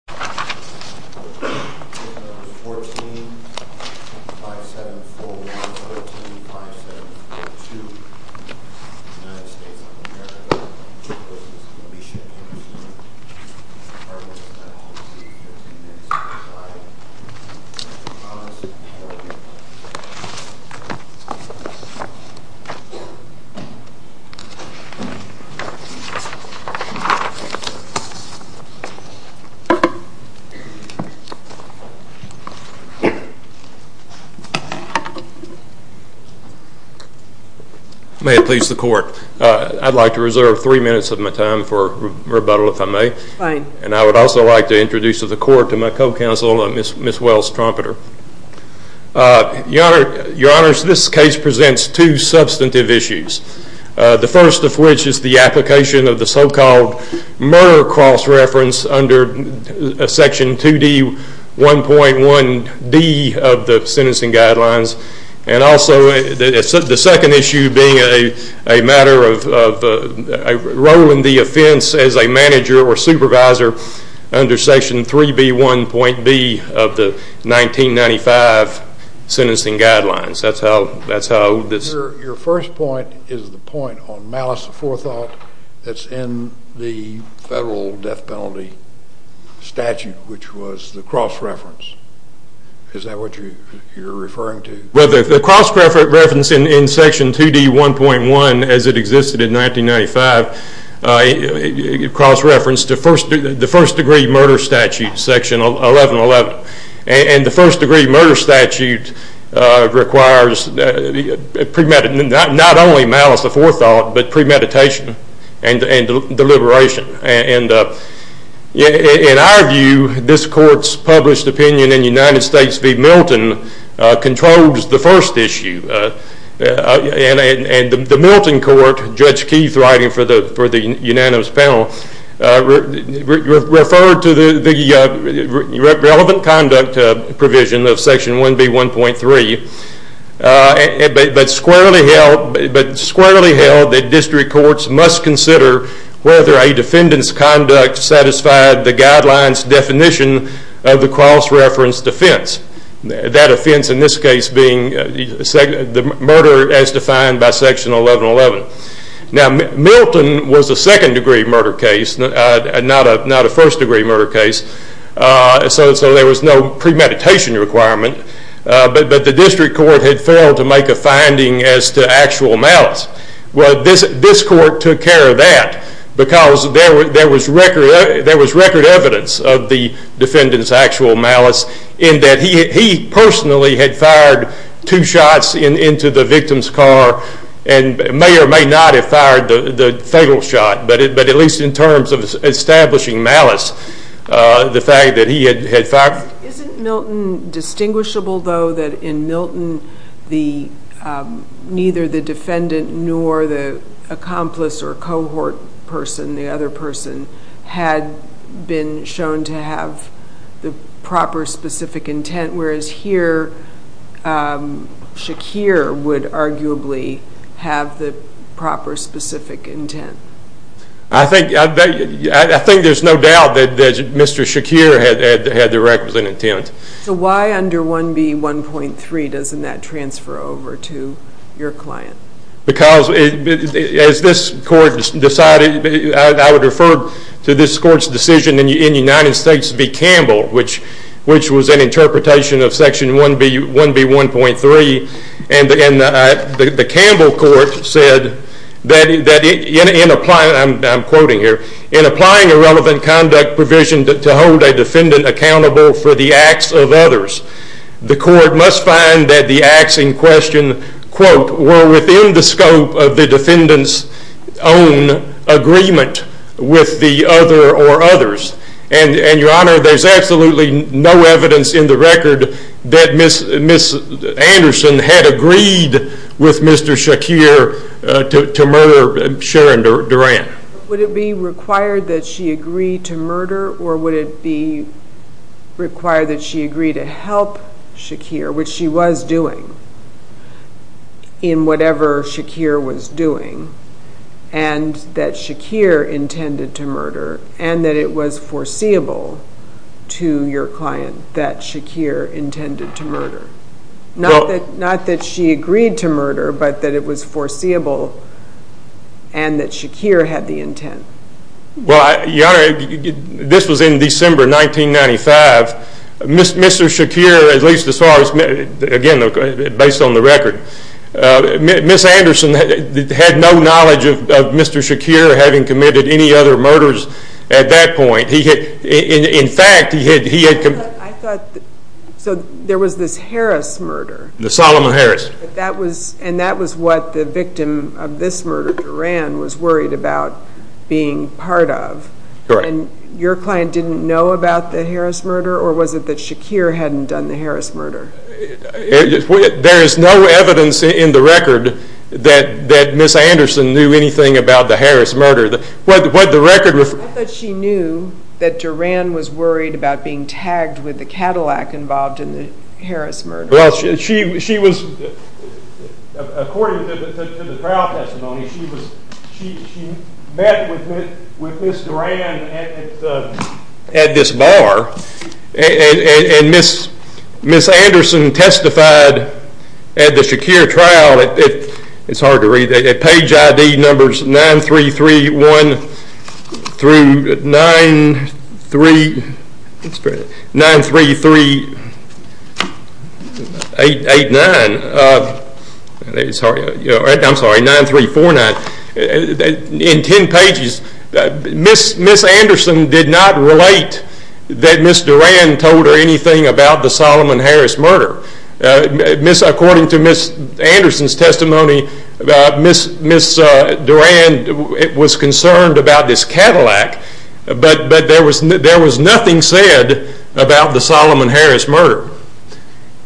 14-5741, 14-5742, United States of America, United States of America, United States of America, United States of America, United States of America, United States of America, United States of America, United States of America, United States of America, United States of America, United States of America, role in the offense as a manager or supervisor under section 3B1.B of the 1995 Sentencing Guidelines. That's how I would… Your first point is the point on malice aforethought that's in the federal death penalty statute which was the cross reference. Is that what you're referring to? Well, the cross reference in section 2D1.1 as it existed in 1995, the cross reference to the first degree murder statute, section 11.11. And the first degree murder statute requires not only malice aforethought but premeditation and deliberation. In our view, this court's published opinion in United States v. Milton controls the first issue. And the Milton court, Judge Keith writing for the unanimous panel, referred to the relevant conduct provision of section 1B1.3, but squarely held that district courts must consider whether a defendant's conduct satisfied the guidelines definition of the cross reference defense. That offense in this case being the murder as defined by section 11.11. Now, Milton was a second degree murder case, not a first degree murder case, so there was no premeditation requirement. But the district court had failed to make a finding as to actual malice. Well, this court took care of that because there was record evidence of the defendant's actual malice in that he personally had fired two shots into the victim's car and may or may not have fired the fatal shot, but at least in terms of establishing malice, the fact that he had fired... Isn't Milton distinguishable, though, that in Milton neither the defendant nor the defendant accomplice or cohort person, the other person, had been shown to have the proper specific intent, whereas here Shakir would arguably have the proper specific intent? I think there's no doubt that Mr. Shakir had the requisite intent. So why under 1B1.3 doesn't that transfer over to your client? Because as this court decided, I would refer to this court's decision in the United States to be Campbell, which was an interpretation of section 1B1.3, and the Campbell court said that in applying, and I'm quoting here, in applying a relevant conduct provision to hold a defendant accountable for the acts of others, the court must find that the acts in question quote, were within the scope of the defendant's own agreement with the other or others. And your honor, there's absolutely no evidence in the record that Ms. Anderson had agreed with Mr. Shakir to murder Sharon Durant. Would it be required that she agree to murder, or would it be required that she agree to murder, in whatever Shakir was doing, and that Shakir intended to murder, and that it was foreseeable to your client that Shakir intended to murder? Not that she agreed to murder, but that it was foreseeable, and that Shakir had the intent? This was in December 1995, Mr. Shakir, at least as far as, again based on the record, Ms. Anderson had no knowledge of Mr. Shakir having committed any other murders at that point. He had, in fact, he had committed. I thought, so there was this Harris murder. The Solomon Harris. That was, and that was what the victim of this murder, Durant, was worried about being part of. Correct. And your client didn't know about the Harris murder, or was it that Shakir hadn't done the Harris murder? There is no evidence in the record that Ms. Anderson knew anything about the Harris murder. What the record referred to... I thought she knew that Durant was worried about being tagged with the Cadillac involved in the Harris murder. She was, according to the trial testimony, she met with Ms. Durant at this bar, and Ms. Anderson testified at the Shakir trial, it's hard to read, at page ID numbers 9331 through 93389, I'm sorry, 9349, in 10 pages, Ms. Anderson did not relate that Ms. Durant told her anything about the Solomon Harris murder. According to Ms. Anderson's testimony, Ms. Durant was concerned about this Cadillac, but there was nothing said about the Solomon Harris murder.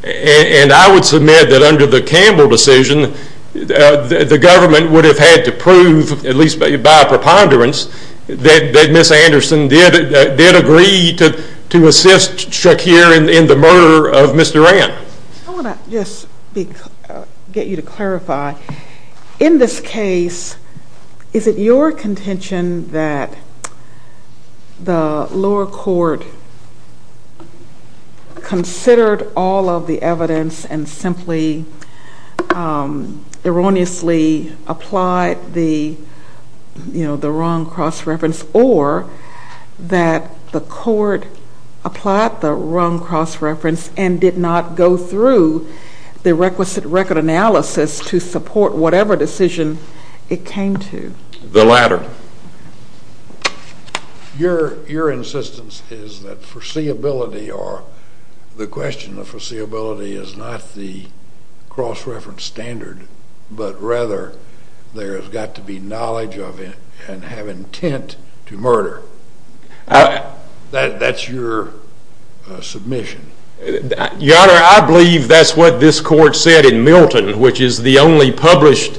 And I would submit that under the Campbell decision, the government would have had to prove, at least by preponderance, that Ms. Anderson did agree to assist Shakir in the murder of Ms. Durant. I want to just get you to clarify, in this case, is it your contention that the lower court considered all of the evidence and simply erroneously applied the wrong cross-reference, or that the court applied the wrong cross-reference and did not go through the requisite record analysis to support whatever decision it came to? The latter. Your insistence is that foreseeability, or the question of foreseeability, is not the basis to murder. That's your submission. Your Honor, I believe that's what this court said in Milton, which is the only published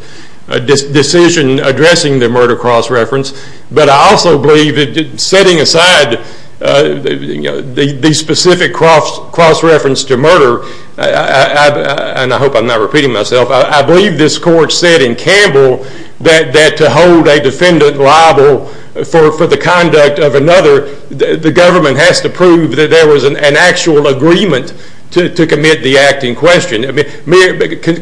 decision addressing the murder cross-reference. But I also believe, setting aside the specific cross-reference to murder, and I hope I'm not repeating myself, I believe this court said in Campbell that to hold a defendant liable for the conduct of another, the government has to prove that there was an actual agreement to commit the act in question. The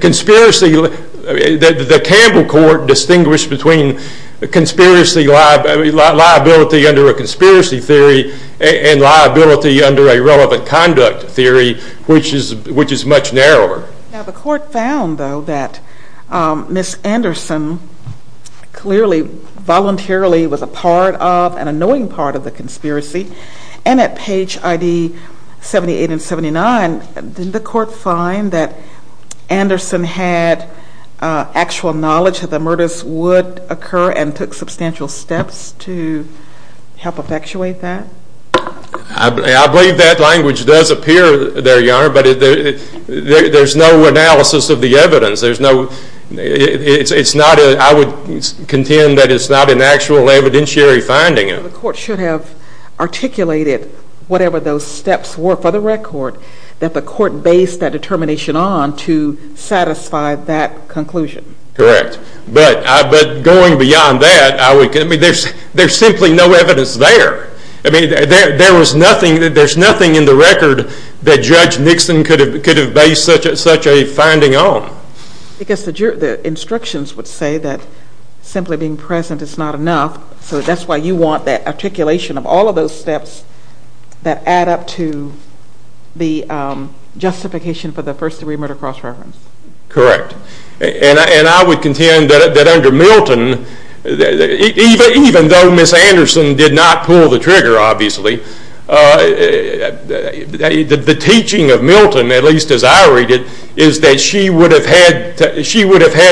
Campbell court distinguished between liability under a conspiracy theory and liability under a relevant conduct theory, which is much narrower. Now the court found, though, that Ms. Anderson clearly voluntarily was a part of, an annoying part of the conspiracy, and at page ID 78 and 79, didn't the court find that Anderson had actual knowledge that the murders would occur and took substantial steps to help effectuate that? I believe that language does appear there, Your Honor, but there's no analysis of the evidence. I would contend that it's not an actual evidentiary finding. The court should have articulated whatever those steps were for the record that the court based that determination on to satisfy that conclusion. Correct. But going beyond that, there's simply no evidence there. There was nothing, there's nothing in the record that Judge Nixon could have based such a finding on. Because the instructions would say that simply being present is not enough, so that's why you want that articulation of all of those steps that add up to the justification for the first degree murder cross-reference. Correct. And I would contend that under Milton, even though Ms. Anderson did not pull the trigger, obviously, the teaching of Milton, at least as I read it, is that she would have had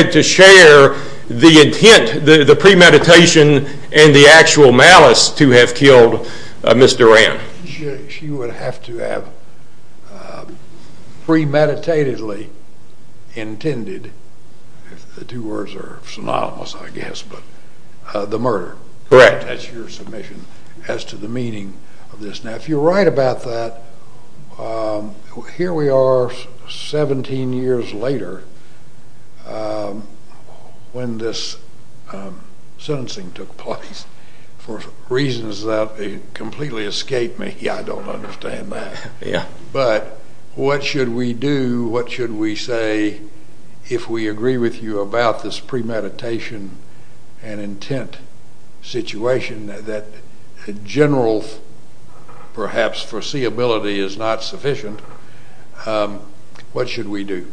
to share the intent, the premeditation, and the actual malice to have killed Ms. Duran. She would have to have premeditatedly intended, if the two words are synonymous I guess, but the murder. Correct. That's your submission as to the meaning of this. Now if you're right about that, here we are 17 years later when this sentencing took place for reasons that completely escape me, I don't understand that. But what should we do, what should we say if we agree with you about this premeditation and intent situation that general perhaps foreseeability is not sufficient, what should we do?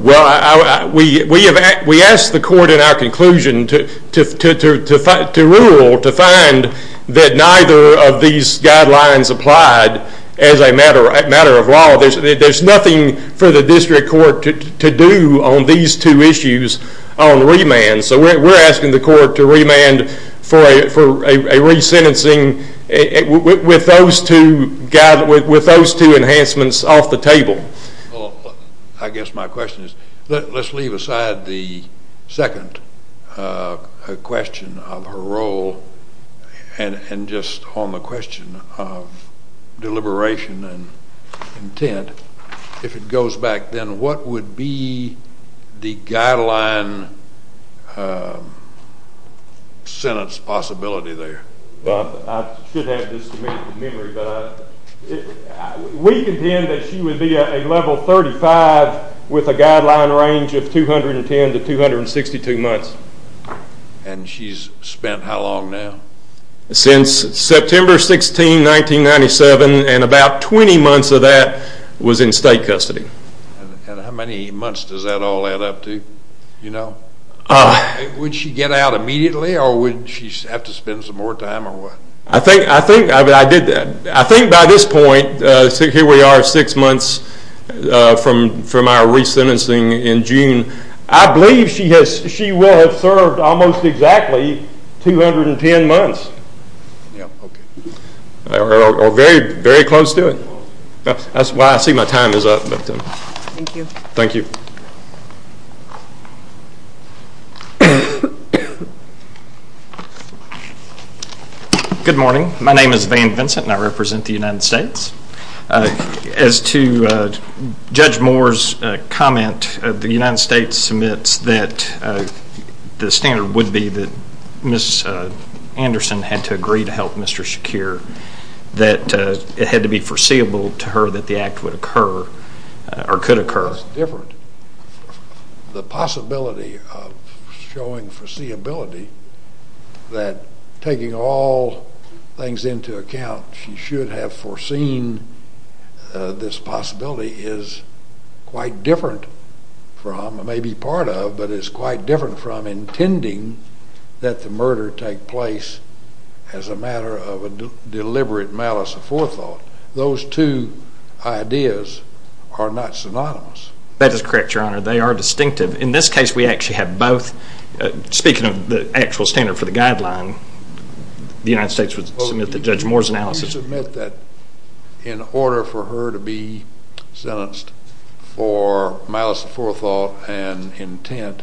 Well, we asked the court in our conclusion to rule, to find that neither of these guidelines applied as a matter of law. There's nothing for the district court to do on these two issues on remand, so we're asking the court to remand for a resentencing with those two enhancements off the table. Well, I guess my question is, let's leave aside the second question of her role and just on the question of deliberation and intent, if it goes back then what would be the guideline sentence possibility there? I should have this to make a memory, but we contend that she would be a level 35 with a guideline range of 210 to 262 months. And she's spent how long now? Since September 16, 1997 and about 20 months of that was in state custody. And how many months does that all add up to? Would she get out immediately or would she have to spend some more time or what? I think by this point, here we are six months from our resentencing in June, I believe she will have served almost exactly 210 months or very close to it. That's why I say my time is up. Thank you. Good morning. My name is Van Vincent and I represent the United States. As to Judge Moore's comment, the United States admits that the standard would be that Ms. Anderson had to agree to help Mr. Shakir, that it had to be foreseeable to her that the act would occur or could occur. That's different. The possibility of showing foreseeability, that taking all things into account, she should have foreseen this possibility is quite different from, maybe part of, but it's quite different from intending that the murder take place as a matter of a deliberate malice of forethought. Those two ideas are not synonymous. That is correct, Your Honor. They are distinctive. In this case, we actually have both. Speaking of the actual standard for the guideline, the United States would submit the Judge Moore's analysis. Do you submit that in order for her to be sentenced for malice of forethought and intent,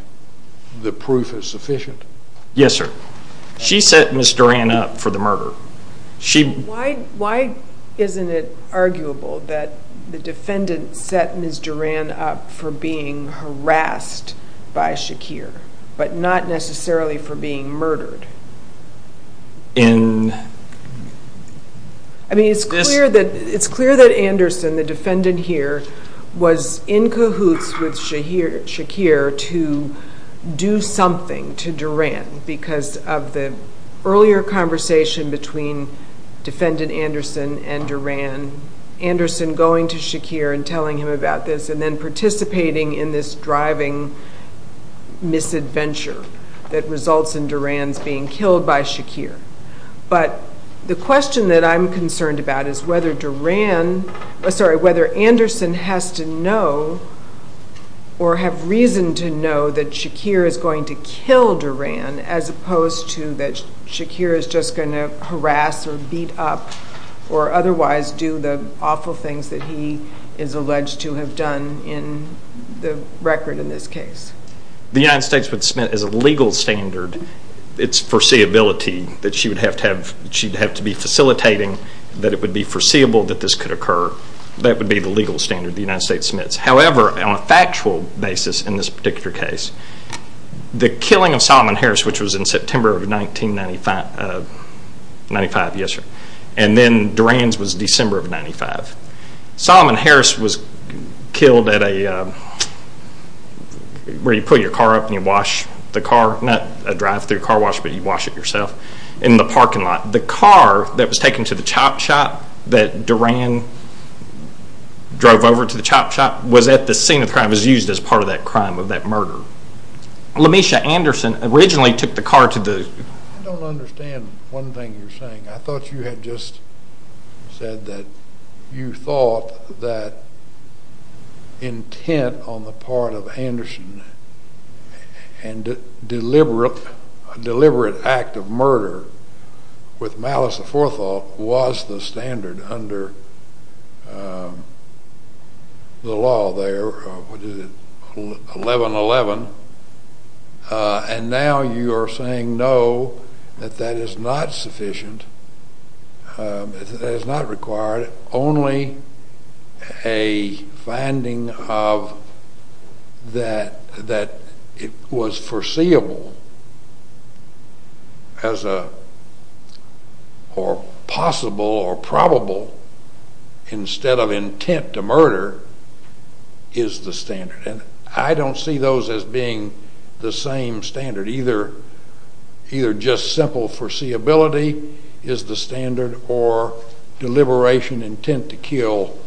the proof is sufficient? Yes, sir. She set Ms. Duran up for the murder. Why isn't it arguable that the defendant set Ms. Duran up for being harassed by Shakir, but not necessarily for being murdered? It's clear that Anderson, the defendant here, was in cahoots with Shakir to do something to Duran because of the earlier conversation between defendant Anderson and Duran, Anderson going to Shakir and telling him about this and then participating in this driving misadventure that results in Duran's being killed by Shakir. The question that I'm concerned about is whether Anderson has to know or have reason to know that Shakir is going to kill Duran as opposed to that Shakir is just going to harass or beat up or otherwise do the awful things that he is alleged to have done in the record in this case. The United States would submit as a legal standard its foreseeability that she'd have to be facilitating that it would be foreseeable that this could occur. That would be the legal standard the United States submits. However, on a factual basis in this particular case, the killing of Solomon Harris, which was in September of 1995, and then Duran's was December of 1995. Solomon Harris was killed where you pull your car up and you wash the car, not a drive-thru car wash, but you wash it yourself, in the parking lot. The car that was taken to the chop shop that Duran drove over to the chop shop was at the scene of the crime. It was used as part of that crime, of that murder. LaMisha Anderson originally took the car to the... I don't understand one thing you're saying. I thought you had just said that you thought that intent on the part of Anderson and a deliberate act of murder was to kill Duran with malice aforethought was the standard under the law there, 1111, and now you are saying no, that that is not sufficient, that is not required, only a finding of that it was foreseeable or possible or probable instead of intent to murder is the standard, and I don't see those as being the same standard. Either just simple foreseeability is the standard or deliberation intent to kill,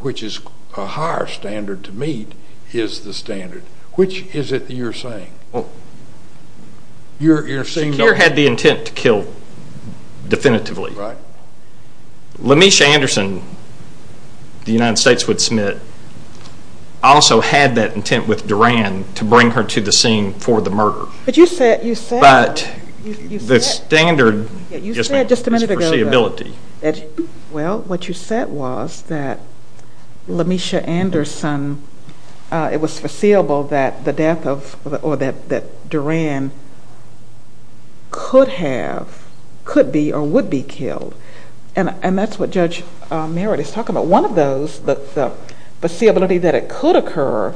which is a higher standard to meet, is the standard. Which is it you're saying? You're saying... Secure had the intent to kill definitively. LaMisha Anderson, the United States Wood Smith, also had that intent with Duran to bring her to the scene for the murder. But you said... But the standard... You said just a minute ago... It was foreseeable that the death of, or that Duran could have, could be, or would be killed, and that's what Judge Merritt is talking about. One of those, the foreseeability that it could occur,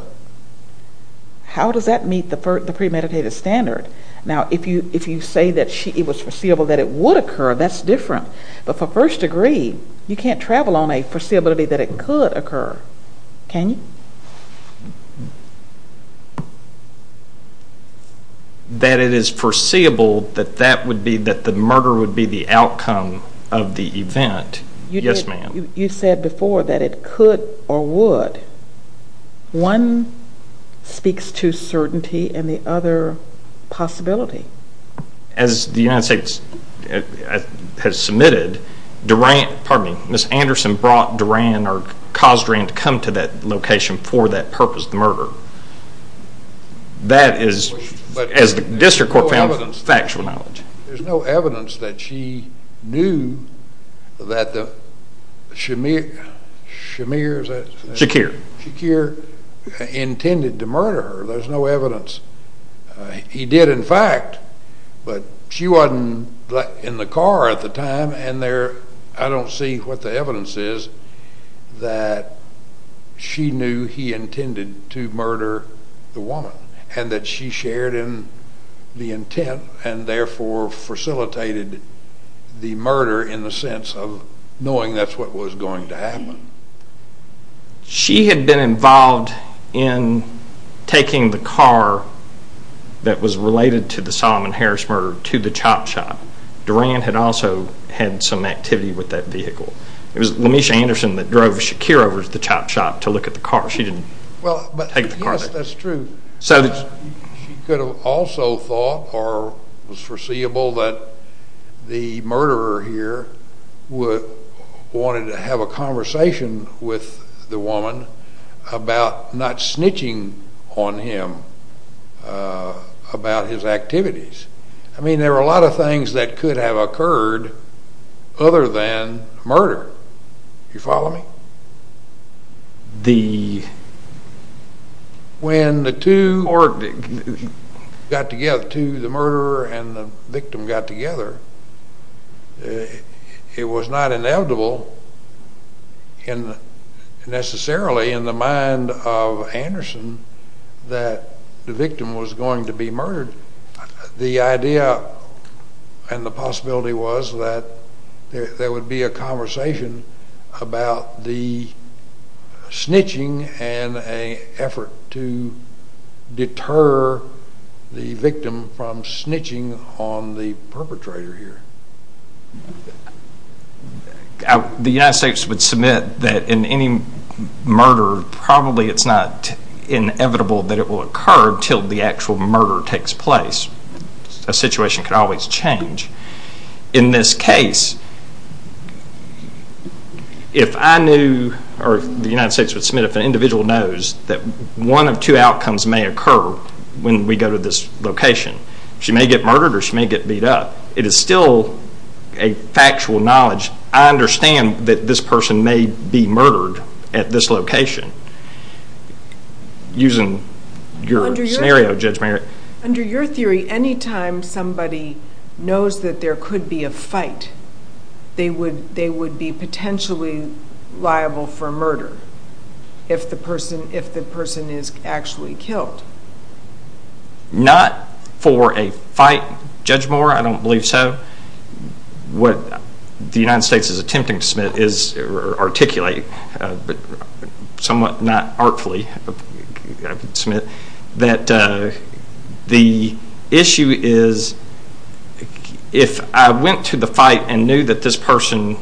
how does that meet the premeditated standard? Now, if you say that it was foreseeable that it would occur, that's different, but for first degree, you can't travel on a foreseeability that it could occur, can you? That it is foreseeable that that would be, that the murder would be the outcome of the event, yes ma'am. You said before that it could or would. One speaks to certainty and the other possibility. As the United States has submitted, Duran, pardon me, Ms. Anderson brought Duran or caused Duran to come to that location for that purpose, the murder. That is, as the district court found, factual knowledge. There's no evidence that she knew that the Shemir, Shemir is that... Shakir. Shakir intended to murder her. There's no evidence. He did in fact, but she wasn't in the car at the time and there, I don't see what the evidence is that she knew he intended to murder the woman and that she shared in the intent and therefore facilitated the murder in the sense of knowing that's what was going to happen. I mean, she had been involved in taking the car that was related to the Solomon Harris murder to the chop shop. Duran had also had some activity with that vehicle. It was Lamisha Anderson that drove Shakir over to the chop shop to look at the car. She didn't take the car there. Yes, that's true. She could have also thought or was foreseeable that the murderer here wanted to have a conversation with the woman about not snitching on him about his activities. I mean, there were a lot of things that could have occurred other than murder. Do you follow me? The... When the two got together, the murderer and the victim got together, it was not a matter of inevitable, necessarily in the mind of Anderson that the victim was going to be murdered. The idea and the possibility was that there would be a conversation about the snitching and an effort to deter the victim from snitching on the perpetrator here. The United States would submit that in any murder, probably it's not inevitable that it will occur until the actual murder takes place. A situation could always change. In this case, if I knew or the United States would submit if an individual knows that one of two outcomes may occur when we go to this location, she may get murdered or she may get beat up. It is still a factual knowledge. I understand that this person may be murdered at this location. Using your scenario, Judge Merritt. Under your theory, any time somebody knows that there could be a fight, they would be potentially liable for murder if the person is actually killed. Correct. Not for a fight, Judge Moore, I don't believe so. What the United States is attempting to submit or articulate, somewhat not artfully, that the issue is if I went to the fight and knew that this person's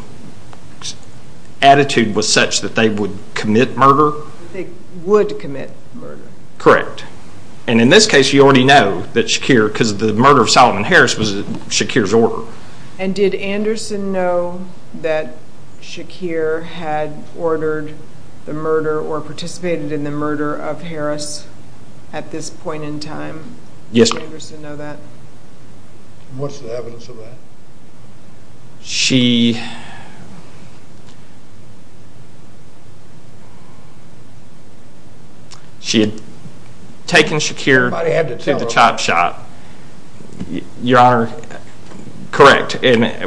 attitude was such that they would commit murder. They would commit murder. Correct. In this case, you already know that Shakir, because the murder of Solomon Harris was Shakir's order. Did Anderson know that Shakir had ordered the murder or participated in the murder of Harris at this point in time? Yes, ma'am. Did Anderson know that? What's the evidence of that? She had taken Shakir to the chop shop. Your Honor, correct.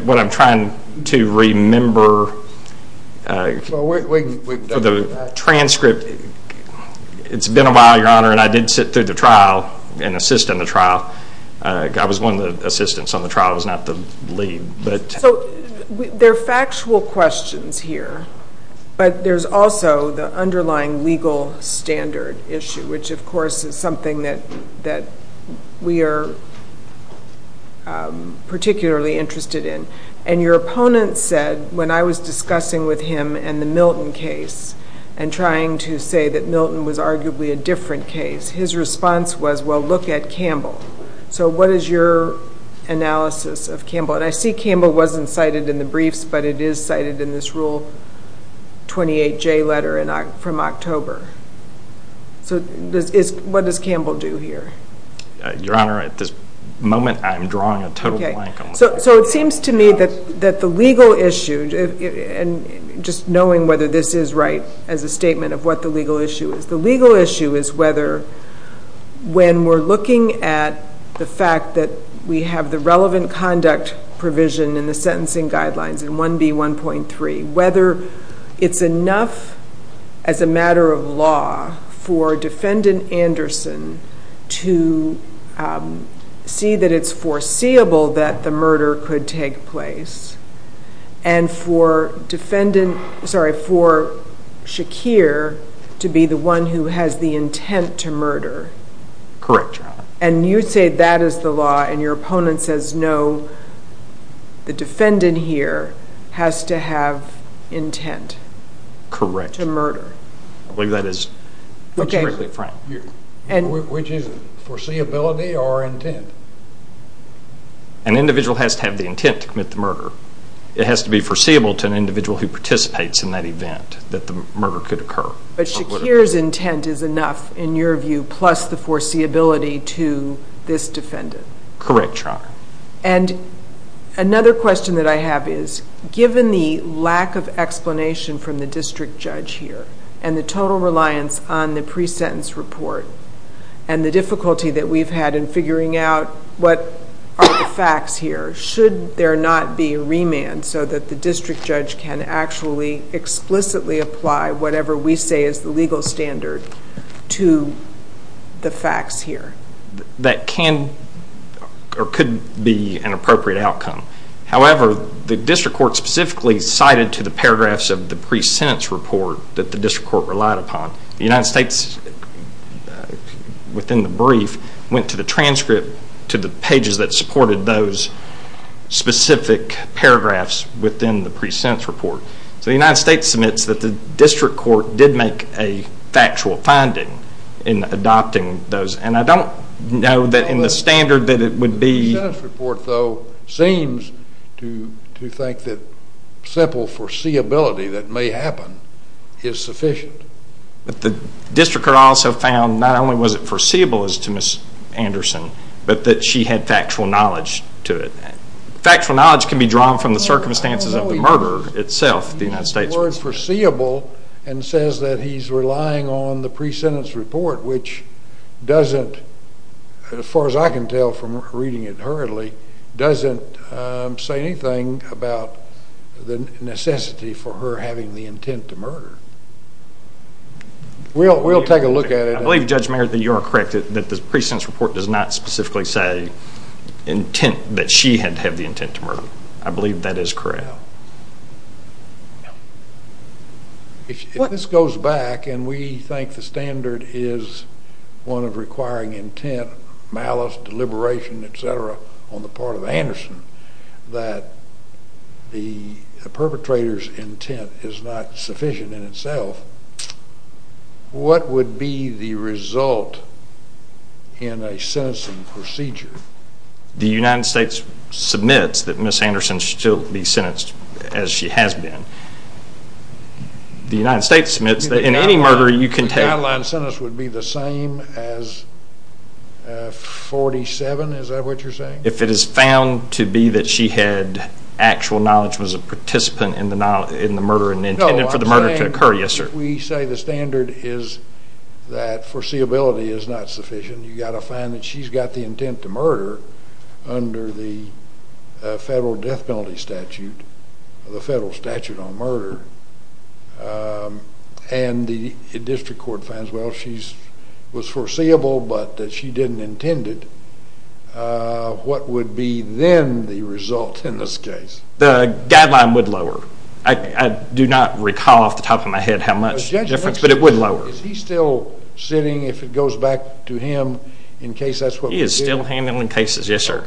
What I'm trying to remember for the transcript, it's been a while, Your Honor, and I did sit through the trial and assist in the trial. I was one of the assistants on the trial. I was not the lead. There are factual questions here, but there's also the underlying legal standard issue, which of course is something that we are particularly interested in. Your opponent said, when I was discussing with him and the Milton case and trying to say that Milton was arguably a different case, his response was, well, look at Campbell. What is your analysis of that? Campbell wasn't cited in the briefs, but it is cited in this Rule 28J letter from October. What does Campbell do here? Your Honor, at this moment, I'm drawing a total blank on the question. It seems to me that the legal issue, just knowing whether this is right as a statement of what the legal issue is, the legal issue is whether when we're looking at the fact that we have the relevant conduct provision in the sentencing guidelines in 1B1.3, whether it's enough as a matter of law for Defendant Anderson to see that it's foreseeable that the murder could take place and for Shakir to be the one who has the intent to murder. Correct, Your Honor. You say that is the law and your opponent says, no, the defendant here has to have intent to murder. Correct. I believe that is what you're referring to. Which is it, foreseeability or intent? An individual has to have the intent to commit the murder. It has to be foreseeable to an individual who participates in that event that the murder could occur. But Shakir's intent is enough in your view plus the foreseeability to this defendant? Correct, Your Honor. Another question that I have is, given the lack of explanation from the district judge here and the total reliance on the pre-sentence report and the difficulty that we've had in figuring out what are the facts here, should there not be a remand so that the district judge can actually explicitly apply whatever we say is the legal standard to the facts here? That can or could be an appropriate outcome. However, the district court specifically cited to the paragraphs of the pre-sentence report that the district court relied upon. The United States, within the brief, went to the transcript to the pages that supported those specific paragraphs within the pre-sentence report. So the United States submits that the district court did make a factual finding in adopting those. And I don't know that in the standard that it would be- The pre-sentence report, though, seems to think that simple foreseeability that may happen is sufficient. The district court also found not only was it foreseeable as to Ms. Anderson, but that she had factual knowledge to it. Factual knowledge can be drawn from the circumstances of the murder itself, the United States- He used the word foreseeable and says that he's relying on the pre-sentence report, which doesn't, as far as I can tell from reading it hurriedly, doesn't say anything about the necessity for her having the intent to murder. We'll take a look at it. I believe, Judge Merritt, that you are correct, that the pre-sentence report does not specifically say intent, that she had to have the intent to murder. I believe that is correct. If this goes back, and we think the standard is one of requiring intent, malice, deliberation, etc., on the part of Anderson, that the perpetrator's intent is not sufficient in itself, what would be the result in a sentencing procedure? The United States submits that Ms. Anderson should still be sentenced as she has been. The United States submits that in any murder you can take- The guideline sentence would be the same as 47, is that what you're saying? If it is found to be that she had actual knowledge, was a participant in the murder and intended for the murder to occur, yes, sir. If we say the standard is that foreseeability is not sufficient, you've got to find that she's got the intent to murder under the federal death penalty statute, the federal statute on murder, and the district court finds, well, she was foreseeable but that she didn't intend it, what would be then the result in this case? The guideline would lower. I do not recall off the top of my head how much difference, but it would lower. Is he still sitting, if it goes back to him, in case that's what we're dealing with? He is still handling cases, yes, sir.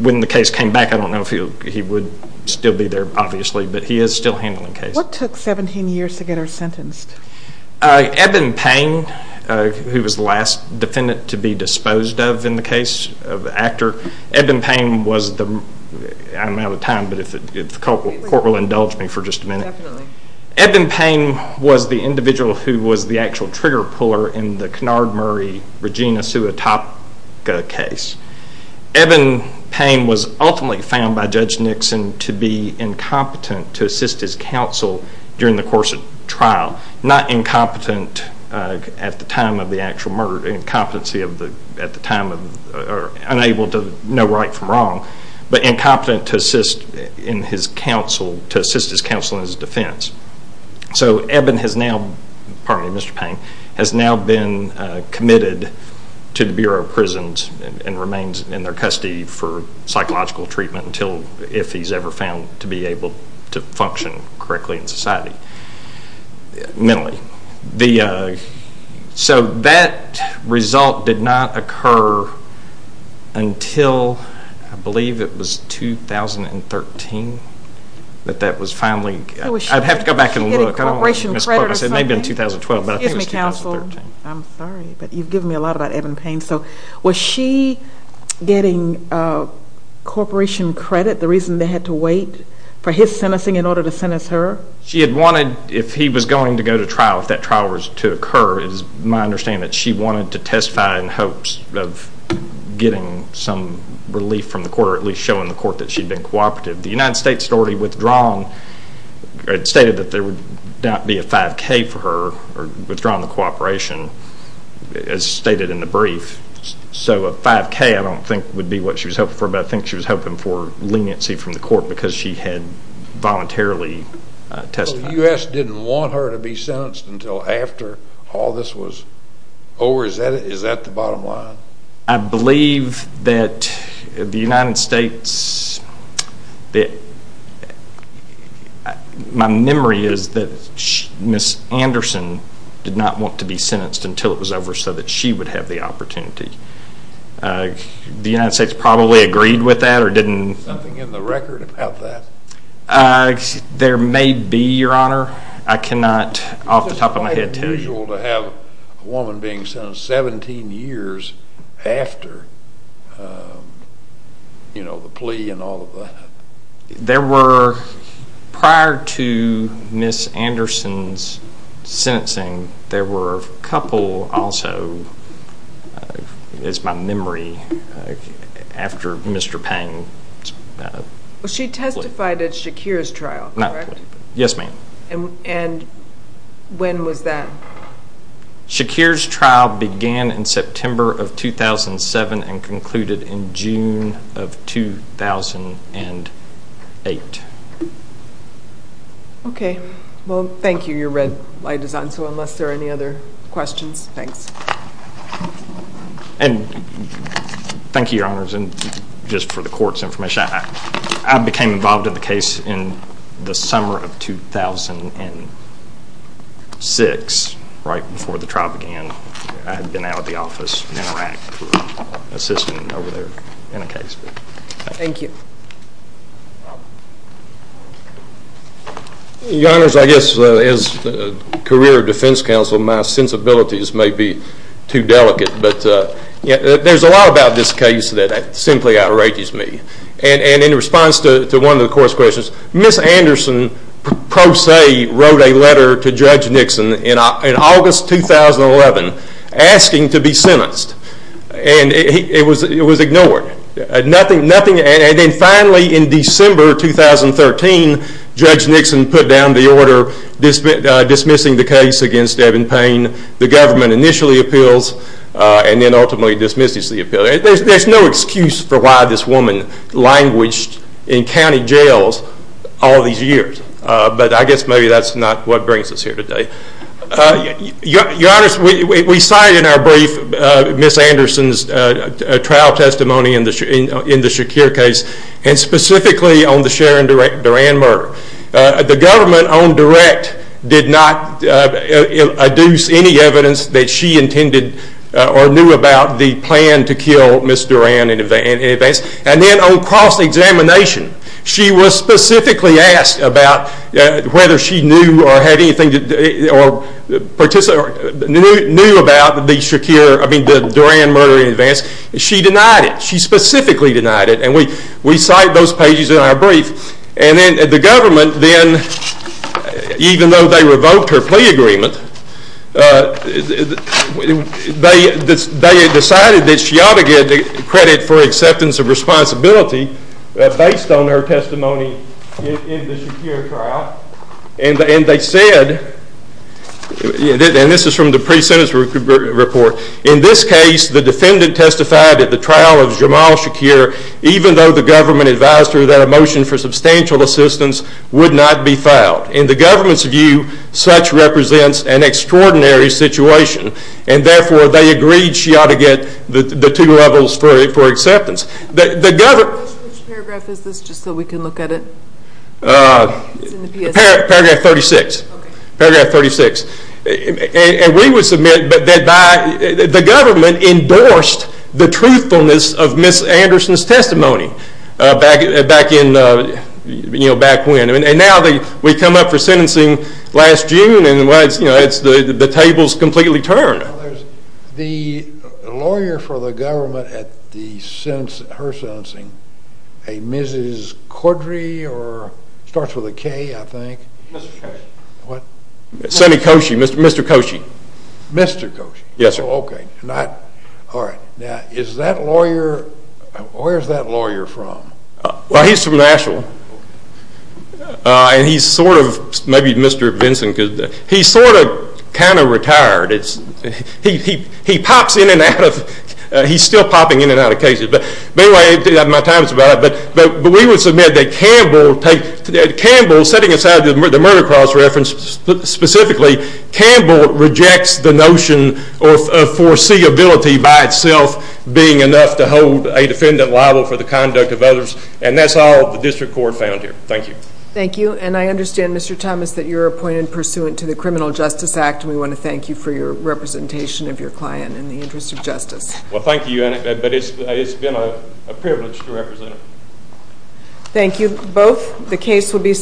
When the case came back, I don't know if he would still be there, obviously, but he is still handling cases. What took 17 years to get her sentenced? Eben Payne, who was the last defendant to be disposed of in the case of the actor, Eben Payne was the, I'm out of time, but if the court will indulge me for just a minute, Eben Payne was the individual who was the actual trigger puller in the Kennard-Murray-Regina-Suatopka case. Eben Payne was ultimately found by Judge Nixon to be incompetent to assist his counsel during the course of the trial, not incompetent at the time of the actual murder, incompetency at the time of, unable to know right from wrong, but incompetent to assist in his counsel, to assist his counsel in his defense. So Eben has now, pardon me, Mr. Payne, has now been committed to the Bureau of Prisons and remains in their custody for psychological treatment until if he's ever found to be able to function correctly in society, mentally. So that result did not occur until, I believe it was 2013 that that was finally, I'd have to go back and look, I don't want to misquote this, it may have been 2012, but I think it was 2013. Excuse me, counsel, I'm sorry, but you've given me a lot about Eben Payne. So was she getting corporation credit, the reason they had to wait for his sentencing in order to sentence her? She had wanted, if he was going to go to trial, if that trial was to occur, it is my understanding that she wanted to testify in hopes of getting some relief from the court or at least showing the court that she'd been cooperative. The United States had already withdrawn, stated that there would not be a 5K for her, or withdrawn the cooperation as stated in the brief. So a 5K I don't think would be what she was hoping for, but I think she was hoping for leniency from the court because she had voluntarily testified. So the U.S. didn't want her to be sentenced until after all this was over, is that the bottom line? I believe that the United States, my memory is that Ms. Anderson did not want to be sentenced until it was over so that she would have the opportunity. The United States probably agreed with that or didn't... Is there something in the record about that? There may be, Your Honor. I cannot off the top of my head tell you. Is it quite unusual to have a woman being sentenced 17 years after the plea and all of that? There were, prior to Ms. Anderson's sentencing, there were a couple also, it's my memory, after Mr. Payne's plea. She testified at Shakir's trial, correct? Yes, ma'am. And when was that? Shakir's trial began in September of 2007 and concluded in June of 2008. Okay. Well, thank you. Your red light is on, so unless there are any other questions, thanks. Thank you, Your Honors. And just for the court's information, I became involved in the case in the summer of 2006, right before the trial began. I had been out of the office in Iraq for assistance over there in a case. Thank you. Your Honors, I guess as a career defense counsel, my sensibilities may be too delicate, but there's a lot about this case that simply outrages me. And in response to one of the court's questions, Ms. Anderson, pro se, wrote a letter to Judge Nixon. And it was ignored. And then finally in December 2013, Judge Nixon put down the order dismissing the case against Eben Payne. The government initially appeals and then ultimately dismisses the appeal. There's no excuse for why this woman languished in county jails all these years. But I guess maybe that's not what brings us here today. Your Honors, we cited in our brief Ms. Anderson's trial testimony in the Shakir case, and specifically on the Sharon Duran murder. The government on direct did not adduce any evidence that she intended or knew about the plan to kill Ms. Duran in advance. And then on cross-examination, she was specifically asked about whether she knew or knew about the Duran murder in advance. She denied it. She specifically denied it. And we cite those pages in our brief. And then the government, even though they revoked her plea agreement, they decided that she ought to get credit for acceptance of responsibility based on her testimony in the Shakir trial. And they said, and this is from the pre-sentence report, in this case the defendant testified at the trial of Jamal Shakir, even though the government advised her that a motion for substantial assistance would not be filed. In the government's view, such represents an extraordinary situation. And therefore, they agreed she ought to get the two levels for acceptance. Which paragraph is this just so we can look at it? Paragraph 36. And we would submit that the government endorsed the truthfulness of Ms. Anderson's testimony back when. And now we come up for sentencing last year, and last June, and the table's completely turned. The lawyer for the government at her sentencing, a Mrs. Cordray, or starts with a K, I think. Mr. Koshy. What? Sonny Koshy, Mr. Koshy. Mr. Koshy? Yes, sir. Okay. All right. Now, is that lawyer, where's that lawyer from? Well, he's from Nashville. And he's sort of, maybe Mr. Vinson could, he's sort of kind of retired. He pops in and out of, he's still popping in and out of cases. But anyway, my time's about up. But we would submit that Campbell, setting aside the murder clause reference specifically, Campbell rejects the notion of foreseeability by itself being enough to hold a defendant liable for the conduct of others. And that's all the district court found here. Thank you. Thank you. And I understand, Mr. Thomas, that you're appointed pursuant to the Criminal Justice Act, and we want to thank you for your representation of your client in the interest of justice. Well, thank you, Annette, but it's been a privilege to represent her. Thank you, both. The case will be submitted